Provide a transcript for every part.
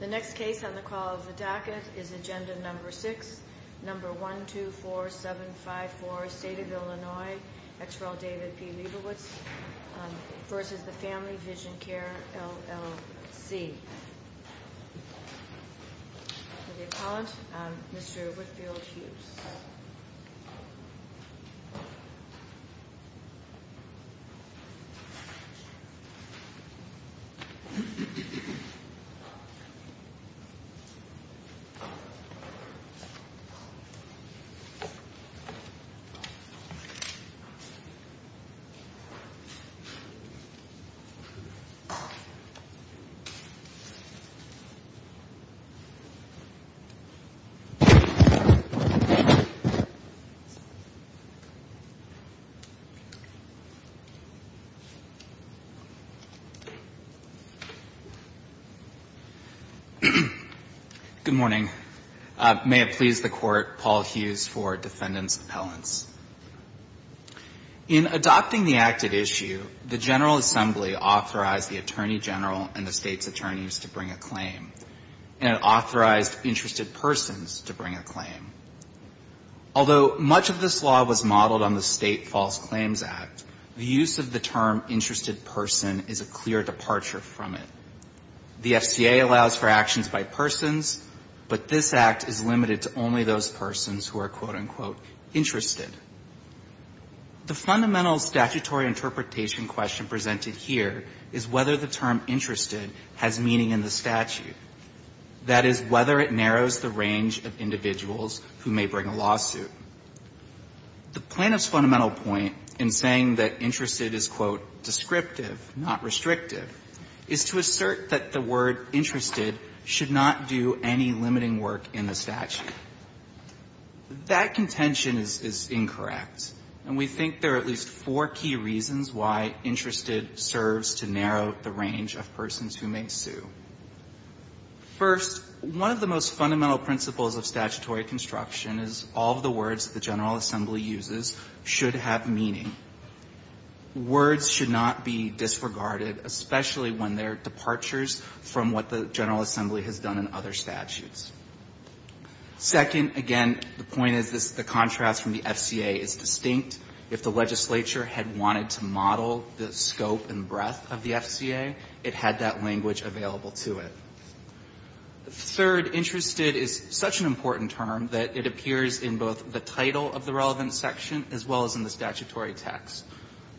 The next case on the call of the docket is Agenda No. 6, No. 124754, State of Illinois, ex rel. David P. Leibowitz v. Family Vision Care, LLC The appellant, Mr. Whitfield-Hughes Good morning. May it please the Court, Paul Hughes for Defendant's Appellants. In adopting the act at issue, the General Assembly authorized the Attorney General and the State's attorneys to bring a claim, and it authorized interested persons to bring a claim. Although much of this law was modeled on the State False Claims Act, the use of the term interested person is a clear departure from it. The FCA allows for actions by persons, but this act is limited to only those persons who are, quote-unquote, interested. The fundamental statutory interpretation question presented here is whether the term interested has meaning in the statute, that is, whether it narrows the range of individuals who may bring a lawsuit. The plaintiff's fundamental point in saying that interested is, quote, descriptive, not restrictive, is to assert that the word interested should not do any limiting work in the statute. That contention is incorrect, and we think there are at least four key reasons why interested serves to narrow the range of persons who may sue. First, one of the most fundamental principles of statutory construction is all of the words should not be disregarded, especially when they're departures from what the General Assembly has done in other statutes. Second, again, the point is the contrast from the FCA is distinct. If the legislature had wanted to model the scope and breadth of the FCA, it had that language available to it. Third, interested is such an important term that it appears in both the title of the relevant section as well as in the statutory text.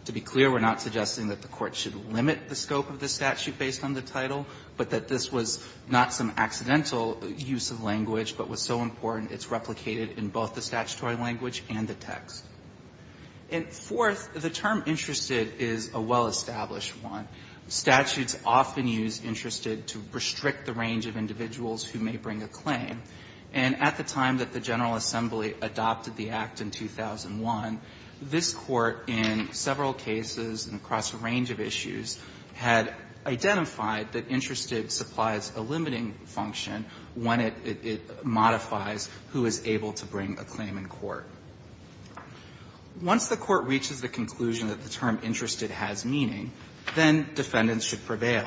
To be clear, we're not suggesting that the Court should limit the scope of the statute based on the title, but that this was not some accidental use of language, but was so important it's replicated in both the statutory language and the text. And fourth, the term interested is a well-established one. Statutes often use interested to restrict the range of individuals who may bring a claim. And at the time that the General Assembly adopted the Act in 2001, this Court, in several cases and across a range of issues, had identified that interested supplies a limiting function when it modifies who is able to bring a claim in court. Once the Court reaches the conclusion that the term interested has meaning, then defendants should prevail.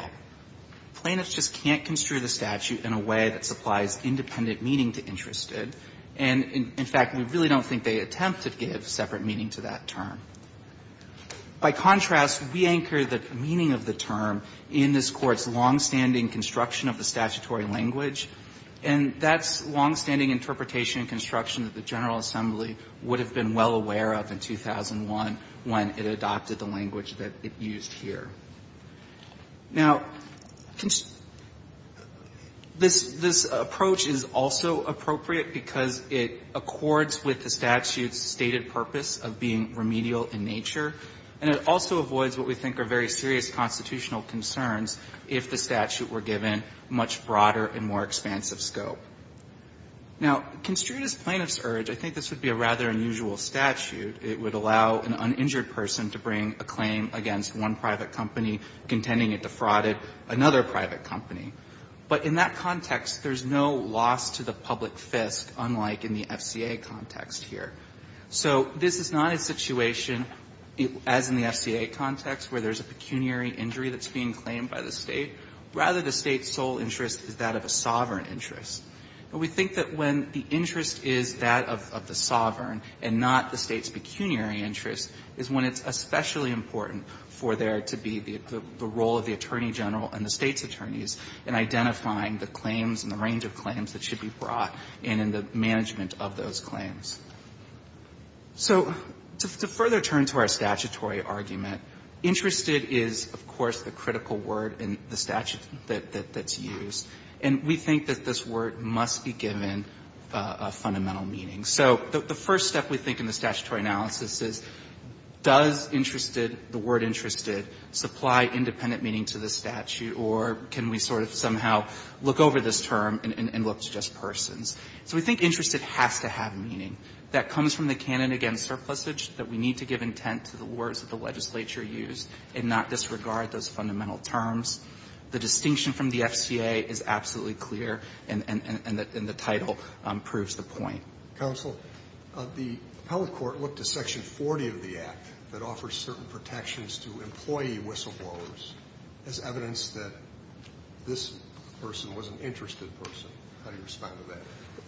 Plaintiffs just can't construe the statute in a way that supplies independent meaning to interested. And in fact, we really don't think they attempt to give separate meaning to that term. By contrast, we anchor the meaning of the term in this Court's longstanding construction of the statutory language, and that's longstanding interpretation and construction that the General Assembly would have been well aware of in 2001 when it adopted the language that it used here. Now, this approach is also appropriate because it accords with the statute's stated purpose of being remedial in nature, and it also avoids what we think are very serious constitutional concerns if the statute were given much broader and more expansive scope. Now, construed as plaintiff's urge, I think this would be a rather unusual statute. It would allow an uninjured person to bring a claim against one private company contending it defrauded another private company. But in that context, there's no loss to the public fist, unlike in the FCA context here. So this is not a situation, as in the FCA context, where there's a pecuniary injury that's being claimed by the State. Rather, the State's sole interest is that of a sovereign interest. And we think that when the interest is that of the sovereign and not the State's pecuniary interest is when it's especially important for there to be the role of the Attorney General and the State's attorneys in identifying the claims and the range of claims that should be brought and in the management of those claims. So to further turn to our statutory argument, interested is, of course, the critical word in the statute that's used. And we think that this word must be given a fundamental meaning. So the first step, we think, in the statutory analysis is, does interested the word interested supply independent meaning to the statute, or can we sort of somehow look over this term and look to just persons? So we think interested has to have a fundamental meaning. That comes from the canon against surplusage that we need to give intent to the words that the legislature used and not disregard those fundamental terms. The distinction from the FCA is absolutely clear, and the title proves the point. Roberts. Counsel, the appellate court looked to Section 40 of the Act that offers certain protections to employee whistleblowers as evidence that this person was an interested person. How do you respond to that?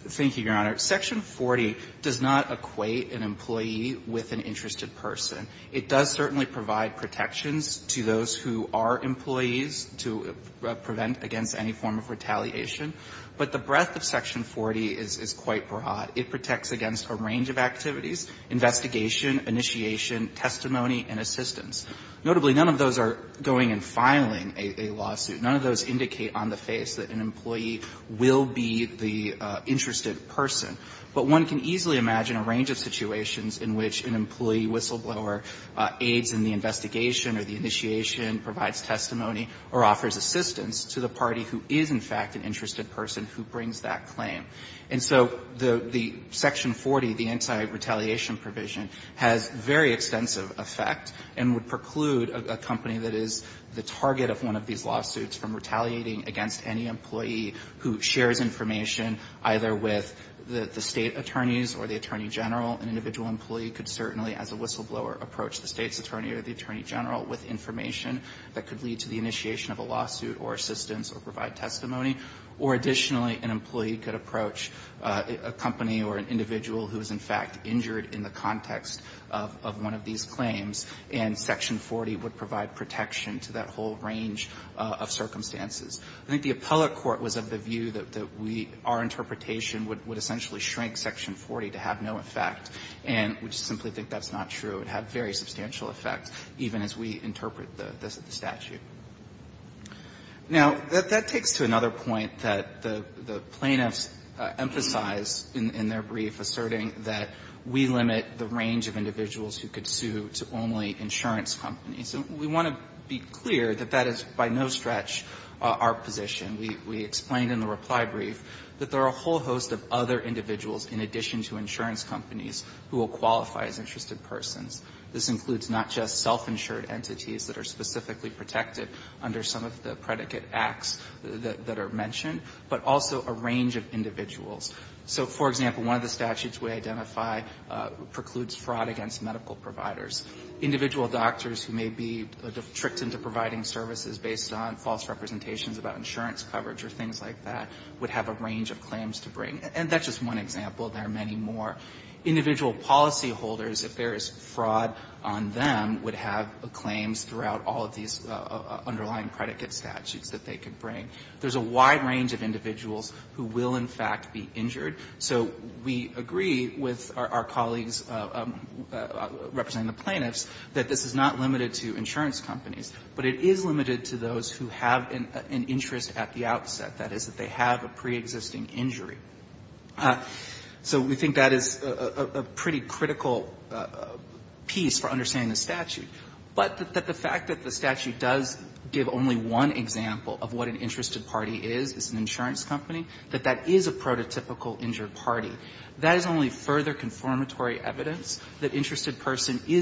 Thank you, Your Honor. Section 40 does not equate an employee with an interested person. It does certainly provide protections to those who are employees to prevent against any form of retaliation. But the breadth of Section 40 is quite broad. It protects against a range of activities, investigation, initiation, testimony, and assistance. Notably, none of those are going and filing a lawsuit. None of those indicate on the face that an employee will be the interested person. But one can easily imagine a range of situations in which an employee whistleblower aids in the investigation or the initiation, provides testimony, or offers assistance to the party who is, in fact, an interested person who brings that claim. And so the Section 40, the anti-retaliation provision, has very extensive effect and would preclude a company that is the target of one of these lawsuits from filing a lawsuit is from retaliating against any employee who shares information, either with the State attorneys or the Attorney General. An individual employee could certainly, as a whistleblower, approach the State's attorney or the Attorney General with information that could lead to the initiation of a lawsuit or assistance or provide testimony. Or additionally, an employee could approach a company or an individual who is, in fact, injured in the context of one of these claims, and Section 40 would provide protection to that whole range of circumstances. I think the appellate court was of the view that we – our interpretation would essentially shrink Section 40 to have no effect, and we just simply think that's not true. It would have very substantial effect, even as we interpret the statute. Now, that takes to another point that the plaintiffs emphasize in their brief, asserting that we limit the range of individuals who could sue to only insurance companies. And we want to be clear that that is by no stretch our position. We explained in the reply brief that there are a whole host of other individuals, in addition to insurance companies, who will qualify as interested persons. This includes not just self-insured entities that are specifically protected under some of the predicate acts that are mentioned, but also a range of individuals. So, for example, one of the individuals who would be tricked into providing services based on false representations about insurance coverage or things like that would have a range of claims to bring. And that's just one example. There are many more. Individual policyholders, if there is fraud on them, would have claims throughout all of these underlying predicate statutes that they could bring. There's a wide range of individuals who will, in fact, be injured. So we agree with our colleagues representing the plaintiffs that this is not limited to insurance companies, but it is limited to those who have an interest at the outset, that is, that they have a preexisting injury. So we think that is a pretty critical piece for understanding the statute. But that the fact that the statute does give only one example of what an interested party is, is an insurance company, that that is a prototypical injured party, that is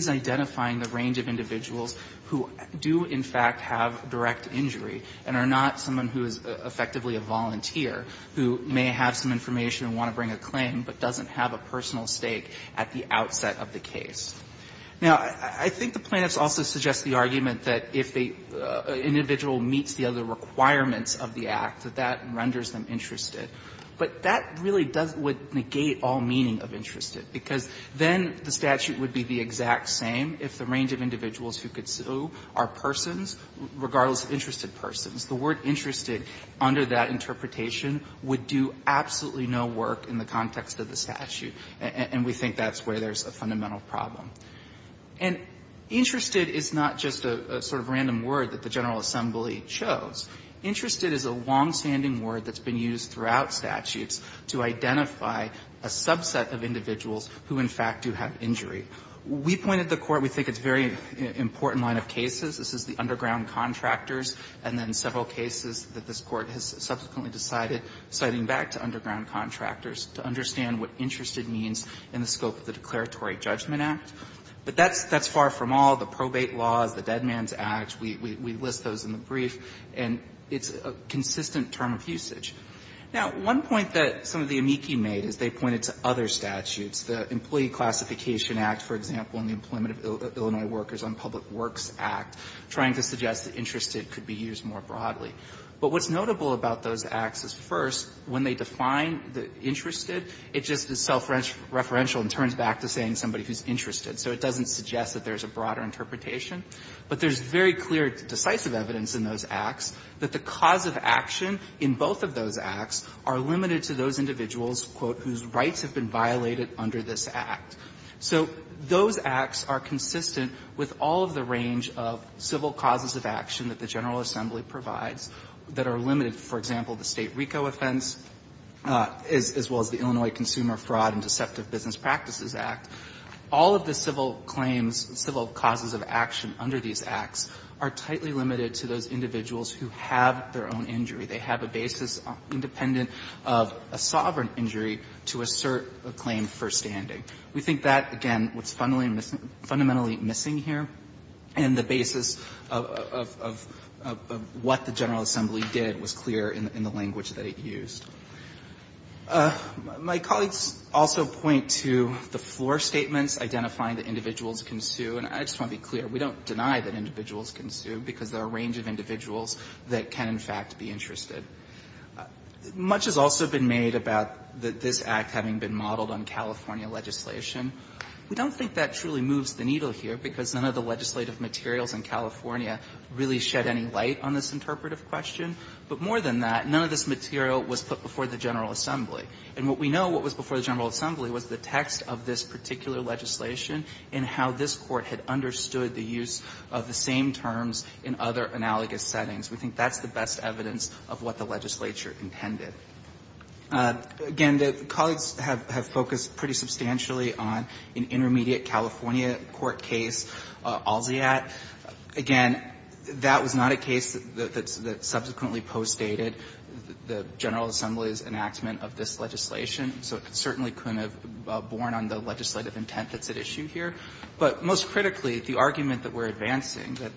identifying the range of individuals who do, in fact, have direct injury and are not someone who is effectively a volunteer, who may have some information and want to bring a claim, but doesn't have a personal stake at the outset of the case. Now, I think the plaintiffs also suggest the argument that if an individual meets the other requirements of the act, that that renders them interested. But that really does negate all meaning of interested, because then the statute would be the exact same if the range of individuals who could sue are persons, regardless of interested persons. The word interested, under that interpretation, would do absolutely no work in the context of the statute. And we think that's where there's a fundamental problem. And interested is not just a sort of random word that the General Assembly chose. Interested is a longstanding word that's been used throughout statutes to identify a subset of individuals who, in fact, do have injury. We point at the Court, we think it's a very important line of cases. This is the underground contractors, and then several cases that this Court has subsequently decided, citing back to underground contractors, to understand what interested means in the scope of the Declaratory Judgment Act. But that's far from all. The probate laws, the Dead Man's Act, we list those in the brief, and it's a consistent term of usage. Now, one point that some of the amici made is they pointed to other things, like the Classification Act, for example, in the Employment of Illinois Workers on Public Works Act, trying to suggest that interested could be used more broadly. But what's notable about those acts is, first, when they define the interested, it just is self-referential and turns back to saying somebody who's interested. So it doesn't suggest that there's a broader interpretation. But there's very clear decisive evidence in those acts that the cause of action in both of those acts are So those acts are consistent with all of the range of civil causes of action that the General Assembly provides that are limited. For example, the State RICO offense, as well as the Illinois Consumer Fraud and Deceptive Business Practices Act, all of the civil claims, civil causes of action under these acts are tightly limited to those individuals who have their own injury. They have a basis independent of a sovereign injury to assert a claim for standing. We think that, again, what's fundamentally missing here and the basis of what the General Assembly did was clear in the language that it used. My colleagues also point to the floor statements identifying that individuals can sue. And I just want to be clear, we don't deny that individuals can sue, because there are a range of individuals that can, in fact, be interested. Much has also been made about this act having been modeled on California legislation. We don't think that truly moves the needle here, because none of the legislative materials in California really shed any light on this interpretive question. But more than that, none of this material was put before the General Assembly. And what we know what was before the General Assembly was the text of this particular legislation and how this Court had understood the use of the same terms in other analogous settings. We think that's the best evidence of what the legislature intended. Again, the colleagues have focused pretty substantially on an intermediate California court case, Alziat. Again, that was not a case that subsequently postdated the General Assembly's enactment of this legislation, so it certainly couldn't have borne on the legislative intent that's at issue here. But most critically, the argument that we're advancing, that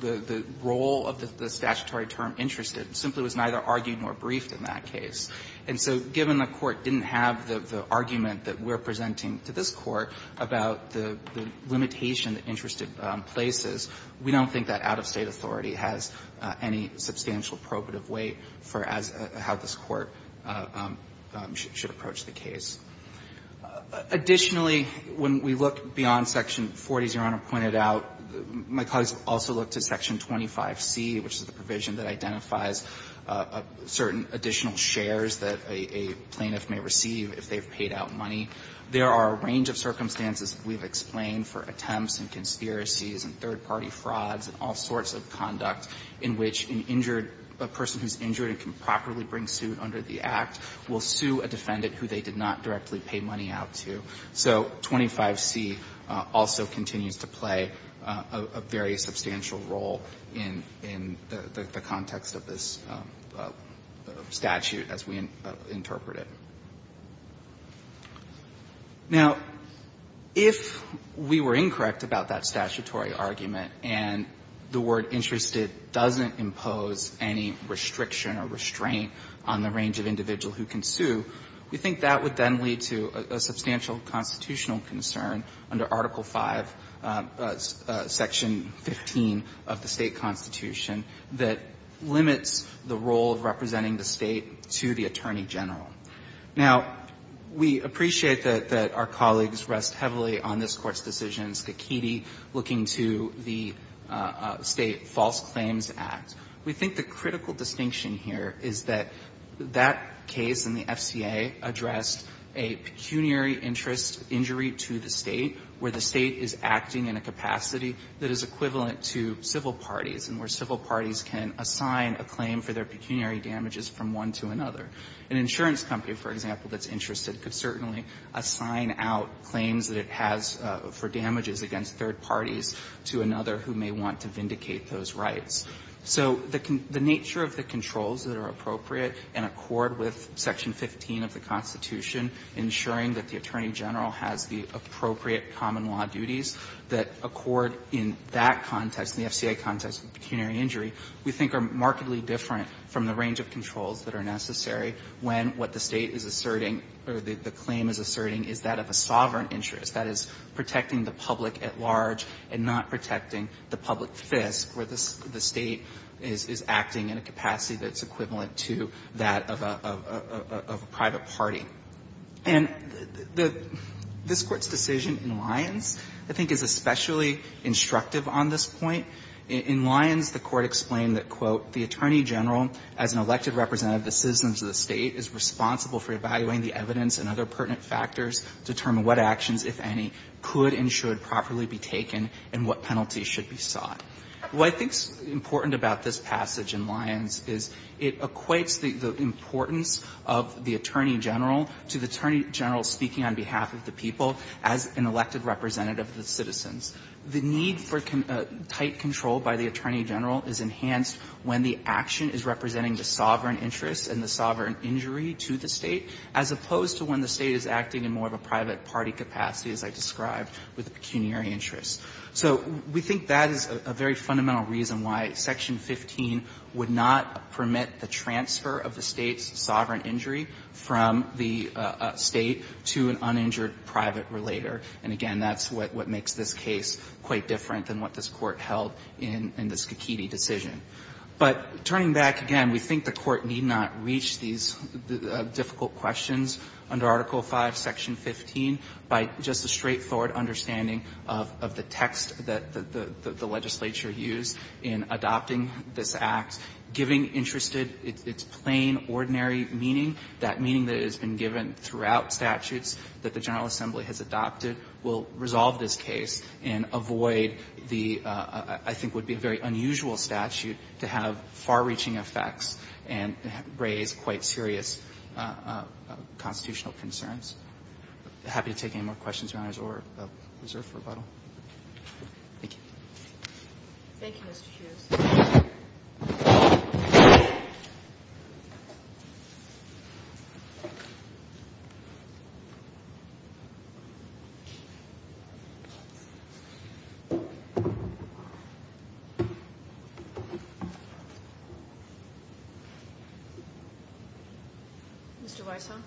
the role of the statutory term, interested, simply was neither argued nor briefed in that case. And so given the Court didn't have the argument that we're presenting to this Court about the limitation that interested places, we don't think that out-of-State authority has any substantial probative weight for how this Court should approach the case. Additionally, when we look beyond Section 40, as Your Honor pointed out, my colleagues also look to Section 25C, which is the provision that identifies certain additional shares that a plaintiff may receive if they've paid out money. There are a range of circumstances that we've explained for attempts and conspiracies and third-party frauds and all sorts of conduct in which an injured person who's injured and can properly bring suit under the Act will sue a defendant who they did not directly pay money out to. So 25C also continues to play a very substantial role in the context of this statute as we interpret it. Now, if we were incorrect about that statutory argument and the word interested doesn't impose any restriction or restraint on the range of individual who can sue, we think that would then lead to a substantial constitutional concern under Article V, Section 15 of the State Constitution that limits the role of representing the State to the Attorney General. Now, we appreciate that our colleagues rest heavily on this Court's decision, Skakidi, looking to the State False Claims Act. We think the critical distinction here is that that case in the FCA addressed a pecuniary interest injury to the State where the State is acting in a capacity that is equivalent to civil parties and where civil parties can assign a claim for their pecuniary damages from one to another. An insurance company, for example, that's interested could certainly assign out claims that it has for damages against third parties to another who may want to vindicate those rights. So the nature of the controls that are appropriate and accord with Section 15 of the Constitution, ensuring that the Attorney General has the appropriate common law duties that accord in that context, in the FCA context, with pecuniary injury, we think are markedly different from the range of controls that are necessary when what the State is asserting or the claim is asserting is that of a sovereign interest, that is, protecting the public at large and not protecting the public fisc, where the State is acting in a capacity that's equivalent to that of a private party. And the this Court's decision in Lyons, I think, is especially instructive on this point. In Lyons, the Court explained that, quote, the Attorney General, as an elected representative of the citizens of the State, is responsible for evaluating the evidence and other pertinent factors to determine what actions, if any, could and should properly be taken and what penalties should be sought. What I think is important about this passage in Lyons is it equates the importance of the Attorney General to the Attorney General speaking on behalf of the people as an elected representative of the citizens. The need for tight control by the Attorney General is enhanced when the action is representing the sovereign interest and the sovereign injury to the State, as opposed to when the State is acting in more of a private party capacity, as I described, with pecuniary interests. So we think that is a very fundamental reason why Section 15 would not permit the transfer of the State's sovereign injury from the State to an uninjured private relator. And, again, that's what makes this case quite different than what this Court held in the Scachitti decision. But turning back again, we think the Court need not reach these difficult questions under Article V, Section 15 by just a straightforward understanding of the text that the legislature used in adopting this Act, giving interested its plain, ordinary meaning, that meaning that has been given throughout statutes that the General Assembly has adopted will resolve this case and avoid the, I think, would be a very difficult situation to have far-reaching effects and raise quite serious constitutional concerns. I'm happy to take any more questions, Your Honors, or reserve for rebuttal. Thank you. Thank you, Mr. Hughes. Mr. Weisshohn.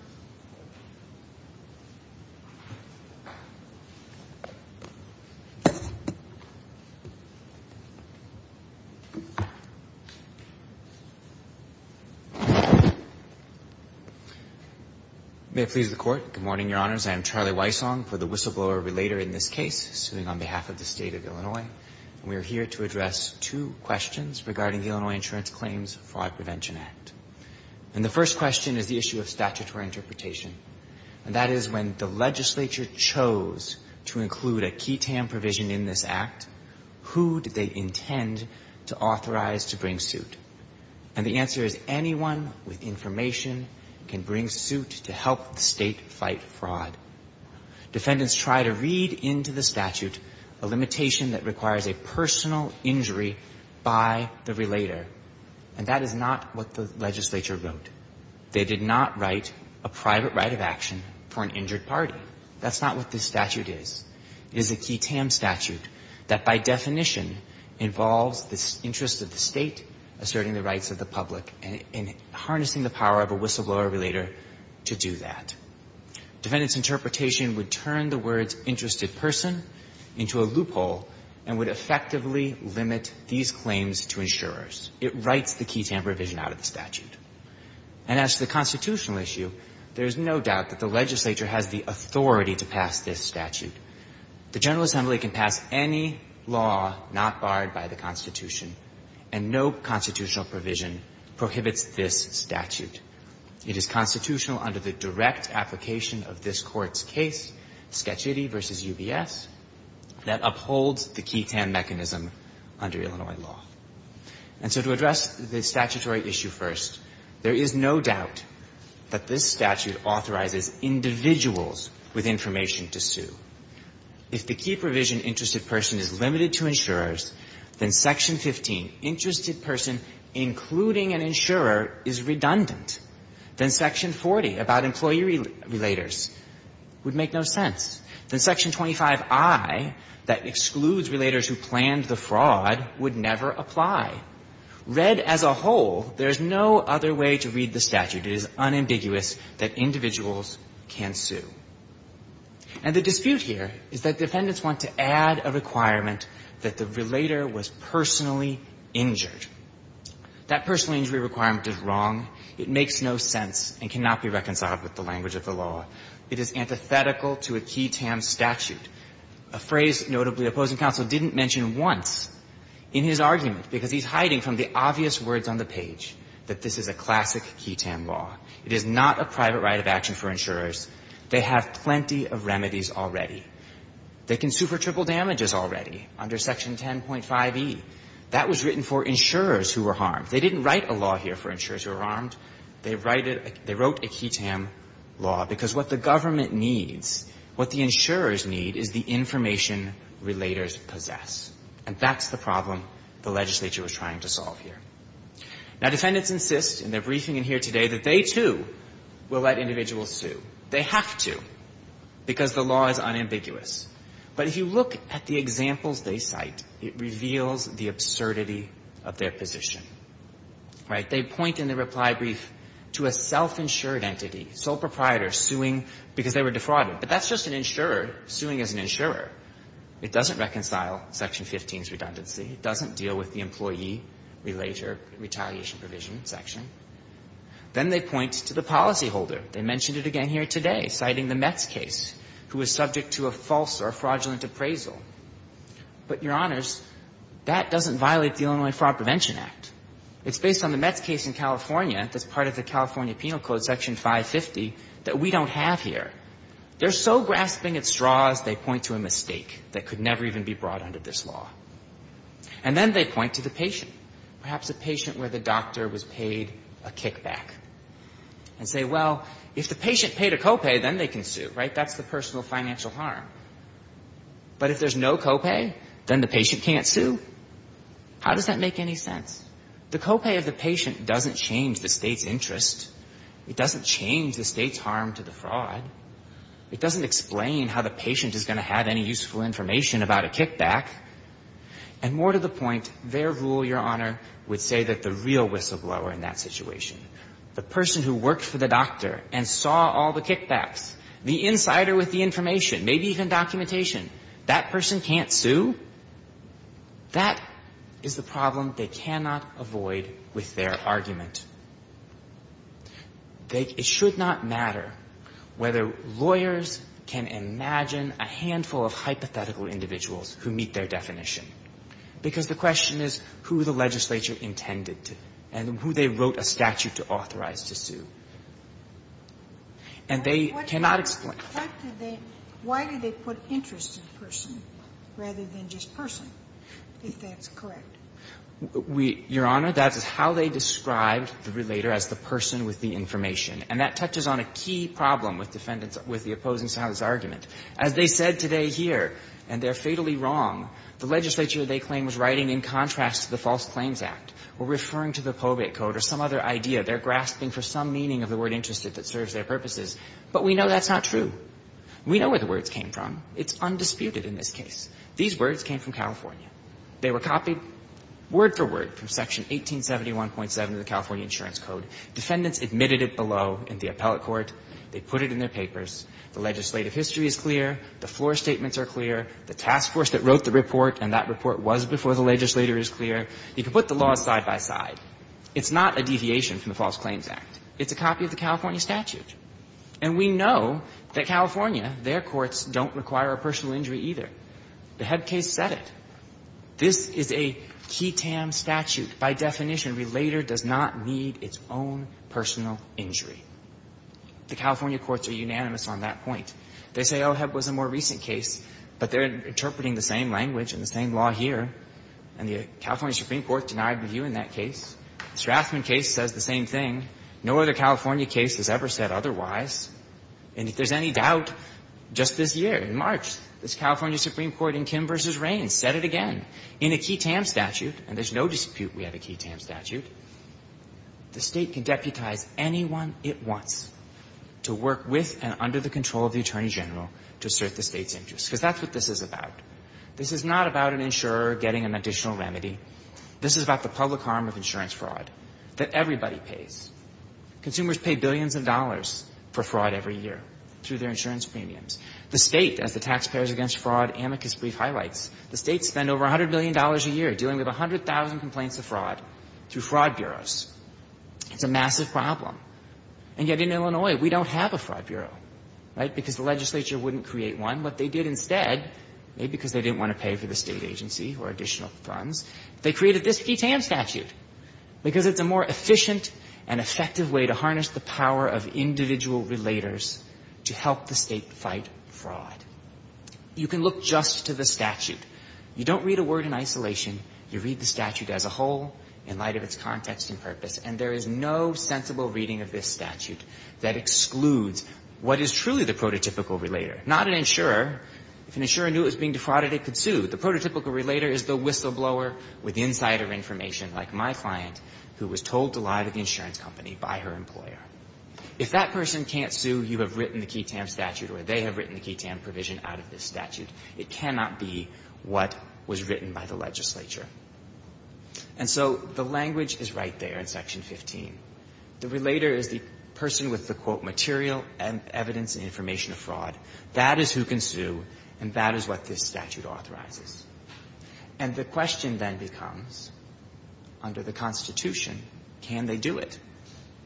May it please the Court. Good morning, Your Honors. I am Charlie Weisshohn for the Whistleblower Relator in this case, suing on behalf of the State of Illinois. And we are here to address two questions regarding the Illinois Insurance Claims Fraud Prevention Act. And the first question is the issue of statutory interpretation. And that is, when the legislature chose to include a ketam provision in this Act, who did they intend to authorize to bring suit? And the answer is, anyone with information can bring suit to help the State fight fraud. Defendants try to read into the statute a limitation that requires a personal injury by the relator. And that is not what the legislature wrote. They did not write a private right of action for an injured party. That's not what this statute is. It is a ketam statute that, by definition, involves the interest of the State asserting the rights of the public and harnessing the power of a whistleblower relator to do that. Defendant's interpretation would turn the words interested person into a loophole and would effectively limit these claims to insurers. It writes the ketam provision out of the statute. And as to the constitutional issue, there is no doubt that the legislature has the authority to pass this statute. The General Assembly can pass any law not barred by the Constitution, and no constitutional provision prohibits this statute. It is constitutional under the direct application of this Court's case, Schettigy v. UBS, that upholds the ketam mechanism under Illinois law. And so to address the statutory issue first, there is no doubt that this statute authorizes individuals with information to sue. If the key provision, interested person, is limited to insurers, then Section 15, interested person including an insurer, is redundant. Then Section 40, about employee relators, would make no sense. Then Section 25i, that excludes relators who planned the fraud, would never apply. Read as a whole, there is no other way to read the statute. It is unambiguous that individuals can sue. And the dispute here is that defendants want to add a requirement that the relator was personally injured. That personal injury requirement is wrong. It makes no sense and cannot be reconciled with the language of the law. It is antithetical to a ketam statute, a phrase notably opposing counsel didn't mention once in his argument, because he's hiding from the obvious words on the page that this is a classic ketam law. It is not a private right of action for insurers. They have plenty of remedies already. They can sue for triple damages already under Section 10.5e. That was written for insurers who were harmed. They didn't write a law here for insurers who were harmed. They wrote a ketam law because what the government needs, what the insurers need, is the information relators possess. And that's the problem the legislature was trying to solve here. Now, defendants insist in their briefing in here today that they, too, will let individuals sue. They have to, because the law is unambiguous. But if you look at the examples they cite, it reveals the absurdity of their position. Right? They point in the reply brief to a self-insured entity, sole proprietor suing because they were defrauded. But that's just an insurer suing as an insurer. It doesn't reconcile Section 15's redundancy. It doesn't deal with the employee-relator retaliation provision section. Then they point to the policyholder. They mentioned it again here today, citing the Metz case, who was subject to a false or fraudulent appraisal. But, Your Honors, that doesn't violate the Illinois Fraud Prevention Act. It's based on the Metz case in California that's part of the California Penal Code, Section 550, that we don't have here. They're so grasping at straws, they point to a mistake that could never even be brought under this law. And then they point to the patient, perhaps a patient where the doctor was paid a kickback and say, well, if the patient paid a copay, then they can sue. Right? That's the personal financial harm. But if there's no copay, then the patient can't sue? How does that make any sense? The copay of the patient doesn't change the State's interest. It doesn't change the State's harm to the fraud. It doesn't explain how the patient is going to have any useful information about a kickback. And more to the point, their rule, Your Honor, would say that the real whistleblower in that situation, the person who worked for the doctor and saw all the kickbacks, the insider with the information, maybe even documentation, that person can't sue? That is the problem they cannot avoid with their argument. They – it should not matter whether lawyers can imagine a handful of hypothetical individuals who meet their definition, because the question is who the legislature intended to and who they wrote a statute to authorize to sue. And they cannot explain that. Sotomayor, why did they put interest in person rather than just person, if that's correct? Your Honor, that's how they described the relator as the person with the information. And that touches on a key problem with defendants – with the opposing side of this argument. As they said today here, and they're fatally wrong, the legislature, they claim, was writing in contrast to the False Claims Act or referring to the probate code or some other idea. They're grasping for some meaning of the word interested that serves their purposes. But we know that's not true. We know where the words came from. It's undisputed in this case. These words came from California. They were copied word for word from Section 1871.7 of the California Insurance Code. Defendants admitted it below in the appellate court. They put it in their papers. The legislative history is clear. The floor statements are clear. The task force that wrote the report and that report was before the legislator is clear. You can put the laws side by side. It's not a deviation from the False Claims Act. It's a copy of the California statute. And we know that California, their courts, don't require a personal injury either. The Heb case said it. This is a QETAM statute. By definition, relator does not need its own personal injury. The California courts are unanimous on that point. They say, oh, Heb was a more recent case, but they're interpreting the same language and the same law here, and the California Supreme Court denied review in that case. Strassman case says the same thing. No other California case has ever said otherwise. And if there's any doubt, just this year, in March, this California Supreme Court in Kim v. Raines said it again. In a QETAM statute, and there's no dispute we have a QETAM statute, the State can deputize anyone it wants to work with and under the control of the Attorney General to assert the State's interest, because that's what this is about. This is not about an insurer getting an additional remedy. This is about the public harm of insurance fraud that everybody pays. Consumers pay billions of dollars for fraud every year through their insurance premiums. The State, as the Taxpayers Against Fraud amicus brief highlights, the State spends over $100 million a year dealing with 100,000 complaints of fraud through fraud bureaus. It's a massive problem. And yet in Illinois, we don't have a fraud bureau, right, because the legislature wouldn't create one. What they did instead, maybe because they didn't want to pay for the State agency or additional funds, they created this QETAM statute, because it's a more efficient and effective way to harness the power of individual relators to help the State fight fraud. You can look just to the statute. You don't read a word in isolation. You read the statute as a whole in light of its context and purpose. And there is no sensible reading of this statute that excludes what is truly the prototypical relator, not an insurer. If an insurer knew it was being defrauded, it could sue. The prototypical relator is the whistleblower with insider information, like my client, who was told to lie to the insurance company by her employer. If that person can't sue, you have written the QETAM statute, or they have written the QETAM provision out of this statute. It cannot be what was written by the legislature. And so the language is right there in Section 15. The relator is the person with the, quote, material evidence and information of fraud. That is who can sue, and that is what this statute authorizes. And the question then becomes, under the Constitution, can they do it?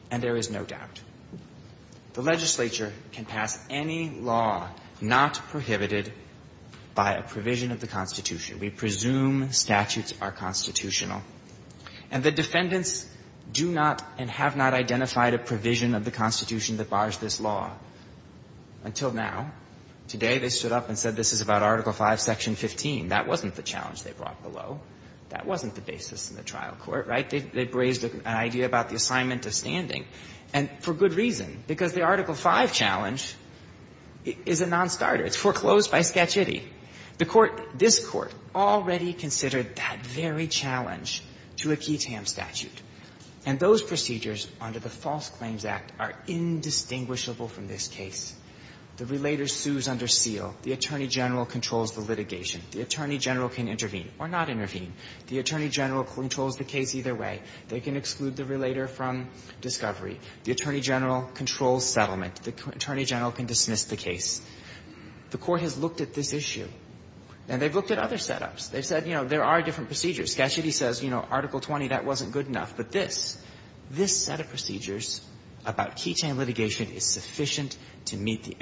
And there is no doubt. The legislature can pass any law not prohibited by a provision of the Constitution. We presume statutes are constitutional. And the defendants do not and have not identified a provision of the Constitution that bars this law until now. Today, they stood up and said this is about Article V, Section 15. That wasn't the challenge they brought below. That wasn't the basis in the trial court, right? They raised an idea about the assignment of standing, and for good reason, because the Article V challenge is a nonstarter. It's foreclosed by sketchity. The Court – this Court already considered that very challenge to a QETAM statute. And those procedures under the False Claims Act are indistinguishable from this case. The relator sues under seal. The attorney general controls the litigation. The attorney general can intervene or not intervene. The attorney general controls the case either way. They can exclude the relator from discovery. The attorney general controls settlement. The attorney general can dismiss the case. The Court has looked at this issue, and they've looked at other setups. They've said, you know, there are different procedures. Sketchity says, you know, Article 20, that wasn't good enough. But this, this set of procedures about QETAM litigation is sufficient to meet the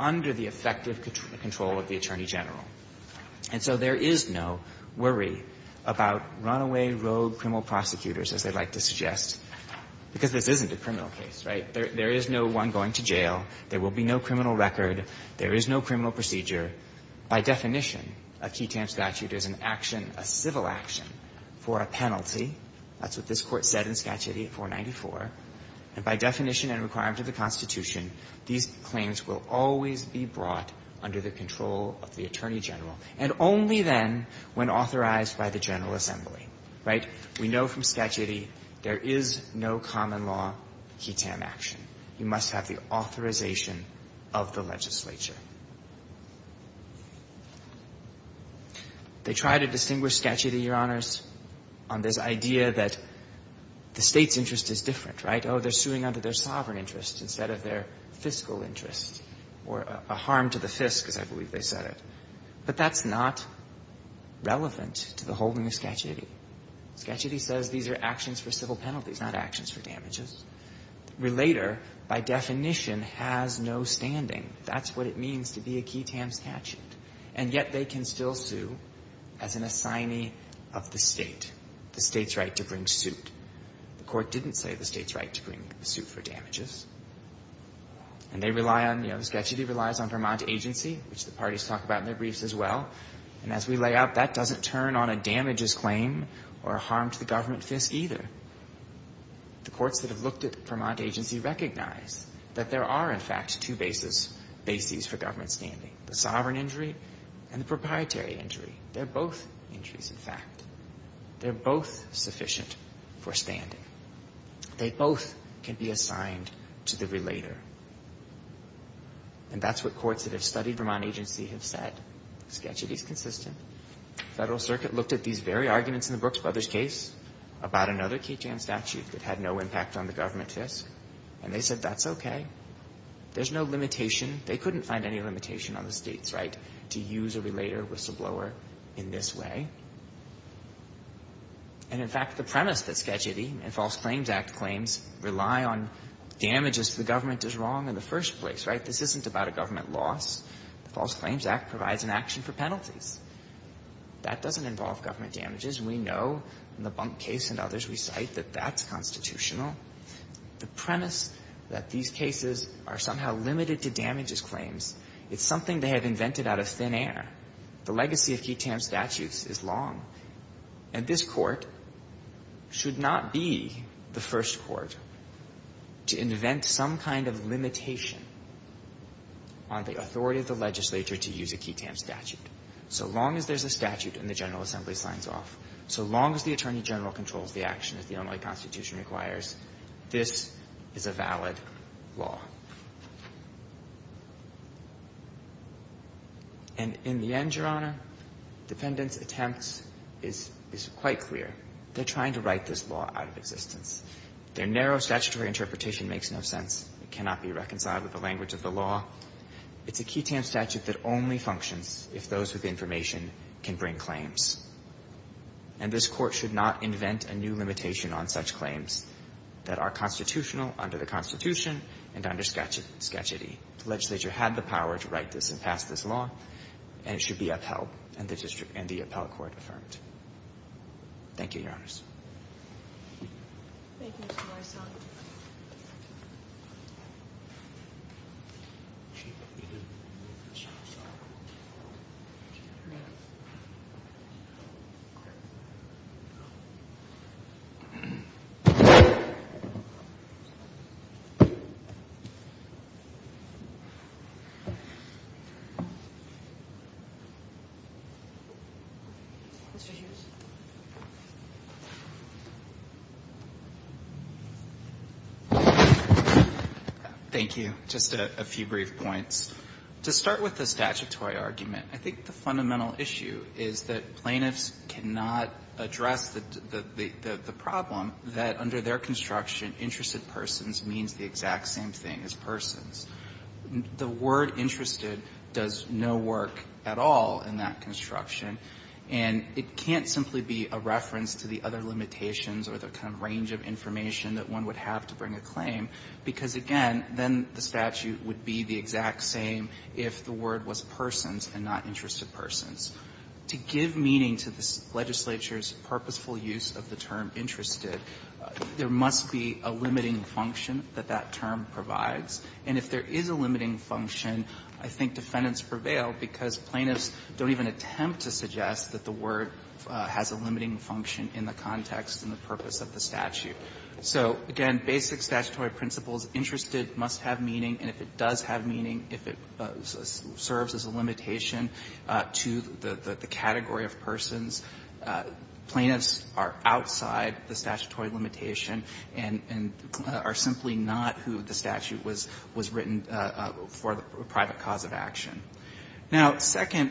under the effective control of the attorney general. And so there is no worry about runaway, rogue criminal prosecutors, as they like to suggest, because this isn't a criminal case, right? There is no one going to jail. There will be no criminal record. There is no criminal procedure. By definition, a QETAM statute is an action, a civil action, for a penalty. That's what this Court said in Sketchity at 494. And by definition and requirement of the Constitution, these claims will always be brought under the control of the attorney general, and only then when authorized by the General Assembly, right? We know from Sketchity there is no common law QETAM action. You must have the authorization of the legislature. They try to distinguish Sketchity, Your Honors, on this idea that the State's interest is different, right? Oh, they're suing under their sovereign interest instead of their fiscal interest or a harm to the fisk, as I believe they said it. But that's not relevant to the holding of Sketchity. Sketchity says these are actions for civil penalties, not actions for damages. Relator, by definition, has no standing. That's what it means to be a QETAM statute. And yet they can still sue as an assignee of the State, the State's right to bring suit. The Court didn't say the State's right to bring a suit for damages. And they rely on, you know, Sketchity relies on Vermont agency, which the parties talk about in their briefs as well. And as we lay out, that doesn't turn on a damages claim or a harm to the government fisk either. The courts that have looked at Vermont agency recognize that there are, in fact, two bases for government standing, the sovereign injury and the proprietary injury. They're both injuries, in fact. They're both sufficient for standing. They both can be assigned to the relator. And that's what courts that have studied Vermont agency have said. Sketchity is consistent. Federal Circuit looked at these very arguments in the Brooks Brothers case about another QETAM statute that had no impact on the government fisk, and they said that's okay. There's no limitation. They couldn't find any limitation on the State's right to use a relator whistleblower in this way. And, in fact, the premise that Sketchity and False Claims Act claims rely on damages to the government is wrong in the first place, right? This isn't about a government loss. The False Claims Act provides an action for penalties. That doesn't involve government damages. We know in the Bunk case and others we cite that that's constitutional. The premise that these cases are somehow limited to damages claims, it's something they have invented out of thin air. The legacy of QETAM statutes is long. And this Court should not be the first Court to invent some kind of limitation on the authority of the legislature to use a QETAM statute. So long as there's a statute and the General Assembly signs off, so long as the Attorney General controls the action, as the Illinois Constitution requires, this is a valid law. And, in the end, Your Honor, defendants' attempts is quite clear. They're trying to write this law out of existence. Their narrow statutory interpretation makes no sense. It cannot be reconciled with the language of the law. It's a QETAM statute that only functions if those with information can bring claims. And this Court should not invent a new limitation on such claims that are constitutional under the Constitution and under Skagiti. The legislature had the power to write this and pass this law, and it should be upheld and the district and the appellate court affirmed. Thank you, Your Honors. Thank you. Just a few brief points. To start with the statutory argument, I think the fundamental issue is that plaintiffs cannot address the problem that under their construction, interested persons means the exact same thing as persons. The word interested does no work at all in that construction, and it can't simply be a reference to the other limitations or the kind of range of information that one would have to bring a claim. Because, again, then the statute would be the exact same if the word was persons and not interested persons. To give meaning to the legislature's purposeful use of the term interested, there must be a limiting function that that term provides. And if there is a limiting function, I think defendants prevail because plaintiffs don't even attempt to suggest that the word has a limiting function in the context and the purpose of the statute. So, again, basic statutory principles, interested must have meaning, and if it does have meaning, if it serves as a limitation to the category of persons, plaintiffs are outside the statutory limitation and are simply not who the statute was written for the private cause of action. Now, second,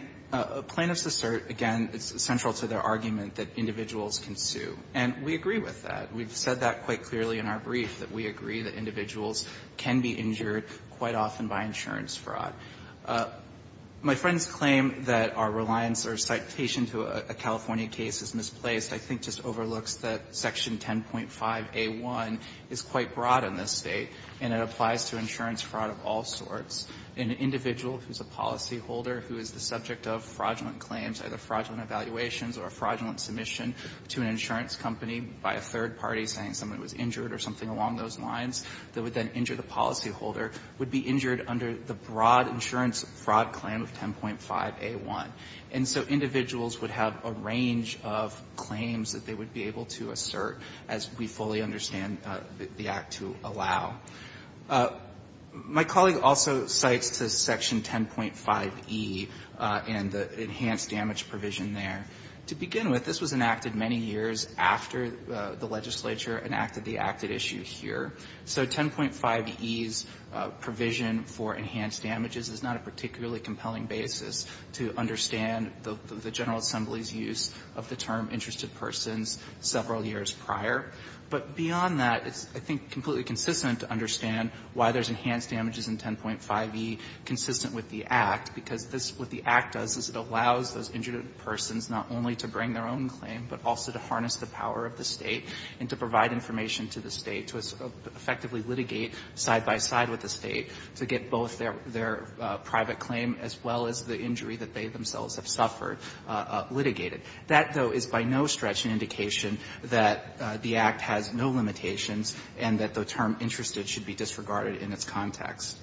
plaintiffs assert, again, it's central to their argument that individuals can sue, and we agree with that. We've said that quite clearly in our brief, that we agree that individuals can be injured quite often by insurance fraud. My friend's claim that our reliance or citation to a California case is misplaced I think just overlooks that Section 10.5a1 is quite broad in this State, and it applies to insurance fraud of all sorts. An individual who is a policyholder who is the subject of fraudulent claims, either fraudulent evaluations or a fraudulent submission to an insurance company by a third party saying someone was injured or something along those lines, that would then injure the policyholder, would be injured under the broad insurance fraud claim of 10.5a1. And so individuals would have a range of claims that they would be able to assert as we fully understand the Act to allow. My colleague also cites to Section 10.5e and the enhanced damage provision there. To begin with, this was enacted many years after the legislature enacted the acted issue here. So 10.5e's provision for enhanced damages is not a particularly compelling basis to understand the General Assembly's use of the term interested persons several years prior. But beyond that, it's, I think, completely consistent to understand why there's enhanced damages in 10.5e consistent with the Act, because this, what the Act does is it allows those injured persons not only to bring their own claim, but also to harness the power of the State and to provide information to the State to effectively litigate side by side with the State to get both their private claim as well as the injury that they themselves have suffered litigated. That, though, is by no stretch an indication that the Act has no limitations and that the term interested should be disregarded in its context.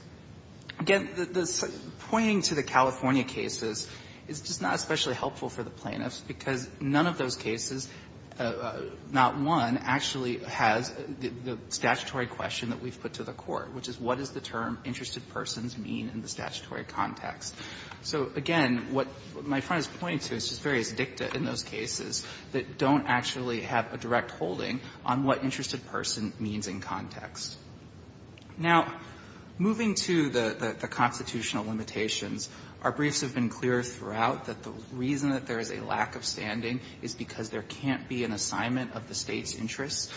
Again, the pointing to the California cases is just not especially helpful for the plaintiffs, because none of those cases, not one, actually has the statutory question that we've put to the Court, which is what does the term interested persons mean in the statutory context. So, again, what my friend is pointing to is just various dicta in those cases that don't actually have a direct holding on what interested person means in context. Now, moving to the constitutional limitations, our briefs have been clear throughout that the reason that there is a lack of standing is because there can't be an assignment of the State's interests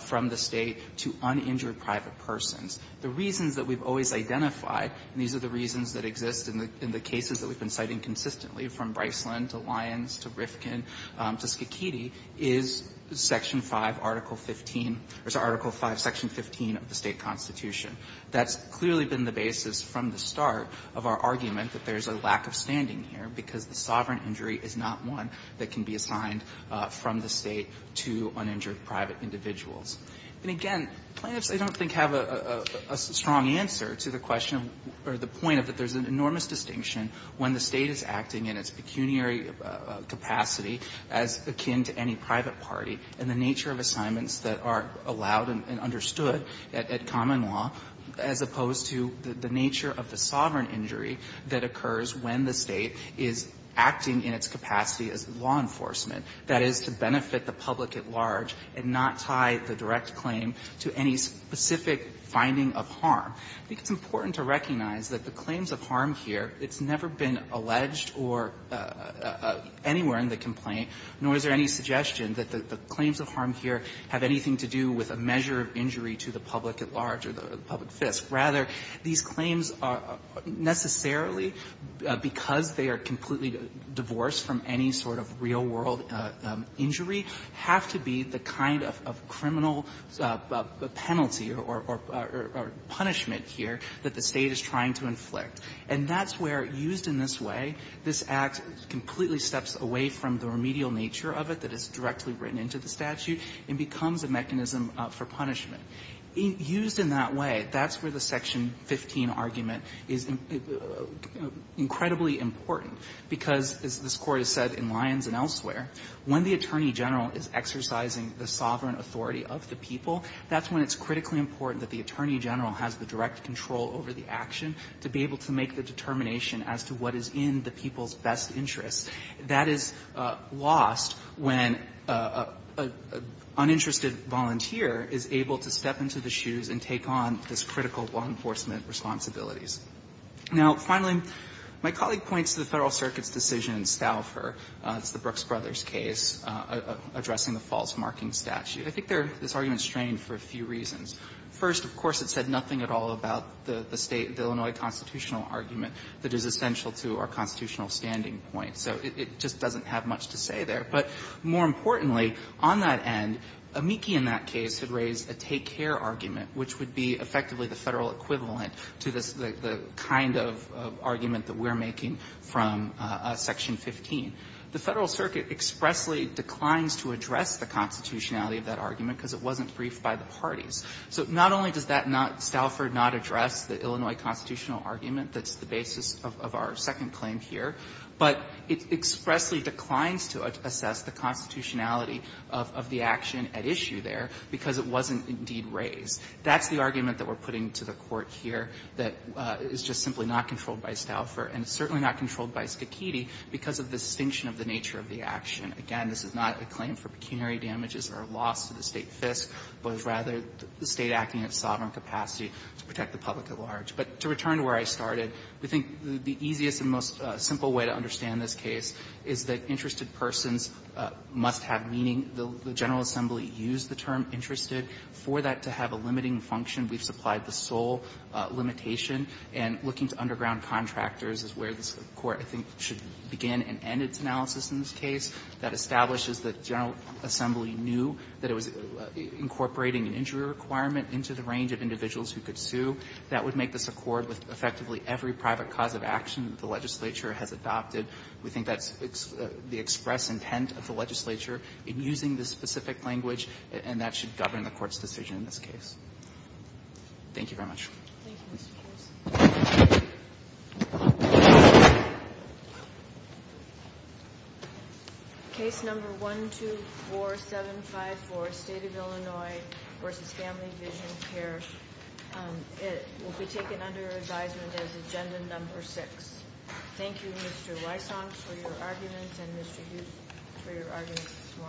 from the State to uninjured private persons. The reasons that we've always identified, and these are the reasons that exist in the cases that we've been citing consistently from Bryslin to Lyons to Rifkin to Schikiti, is Section 5, Article 15, or is it Article 5, Section 15 of the State Constitution. That's clearly been the basis from the start of our argument that there's a lack of standing here because the sovereign injury is not one that can be assigned from the State to uninjured private individuals. And, again, plaintiffs, I don't think, have a strong answer to the question or the point of that there's an enormous distinction when the State is acting in its pecuniary capacity as akin to any private party and the nature of assignments that are allowed and understood at common law, as opposed to the nature of the sovereign injury that occurs when the State is acting in its capacity as law enforcement, that is, to benefit the public at large and not tie the direct responsibility or the direct claim to any specific finding of harm. I think it's important to recognize that the claims of harm here, it's never been alleged or anywhere in the complaint, nor is there any suggestion that the claims of harm here have anything to do with a measure of injury to the public at large or the public fisc. Rather, these claims are necessarily, because they are completely divorced from any sort of real-world injury, have to be the kind of criminal penalty or punishment here that the State is trying to inflict. And that's where, used in this way, this Act completely steps away from the remedial nature of it that is directly written into the statute and becomes a mechanism for punishment. Used in that way, that's where the Section 15 argument is incredibly important, because, as this Court has said in Lyons and elsewhere, when the Attorney General is exercising the sovereign authority of the people, that's when it's critically important that the Attorney General has the direct control over the action to be able to make the determination as to what is in the people's best interests. That is lost when an uninterested volunteer is able to step into the shoes and take on this critical law enforcement responsibilities. Now, finally, my colleague points to the Federal Circuit's decision in Stauffer, it's the Brooks Brothers case, addressing the false marking statute. I think this argument is strained for a few reasons. First, of course, it said nothing at all about the State, the Illinois constitutional argument that is essential to our constitutional standing point. So it just doesn't have much to say there. But more importantly, on that end, Amici in that case had raised a take-care argument, which would be effectively the Federal equivalent to the kind of argument that we're making from Section 15. The Federal Circuit expressly declines to address the constitutionality of that argument because it wasn't briefed by the parties. So not only does that not staffer, not address the Illinois constitutional argument that's the basis of our second claim here, but it expressly declines to assess the constitutionality of the action at issue there because it wasn't indeed raised. That's the argument that we're putting to the Court here that is just simply not controlled by Stauffer and certainly not controlled by Scachetti because of the distinction of the nature of the action. Again, this is not a claim for pecuniary damages or loss to the State FISC, but it's rather the State acting in its sovereign capacity to protect the public at large. But to return to where I started, we think the easiest and most simple way to understand this case is that interested persons must have meaning. We think the General Assembly used the term interested for that to have a limiting function. We've supplied the sole limitation, and looking to underground contractors is where this Court, I think, should begin and end its analysis in this case. That establishes the General Assembly knew that it was incorporating an injury requirement into the range of individuals who could sue. That would make this accord with effectively every private cause of action the legislature has adopted. We think that's the express intent of the legislature in using this specific language, and that should govern the Court's decision in this case. Thank you very much. Ginsburg. Case number 124754, State of Illinois v. Family Vision Care. It will be taken under advisement as agenda number 6. Thank you, Mr. Weisshoff, for your arguments, and Mr. Youth for your arguments this morning.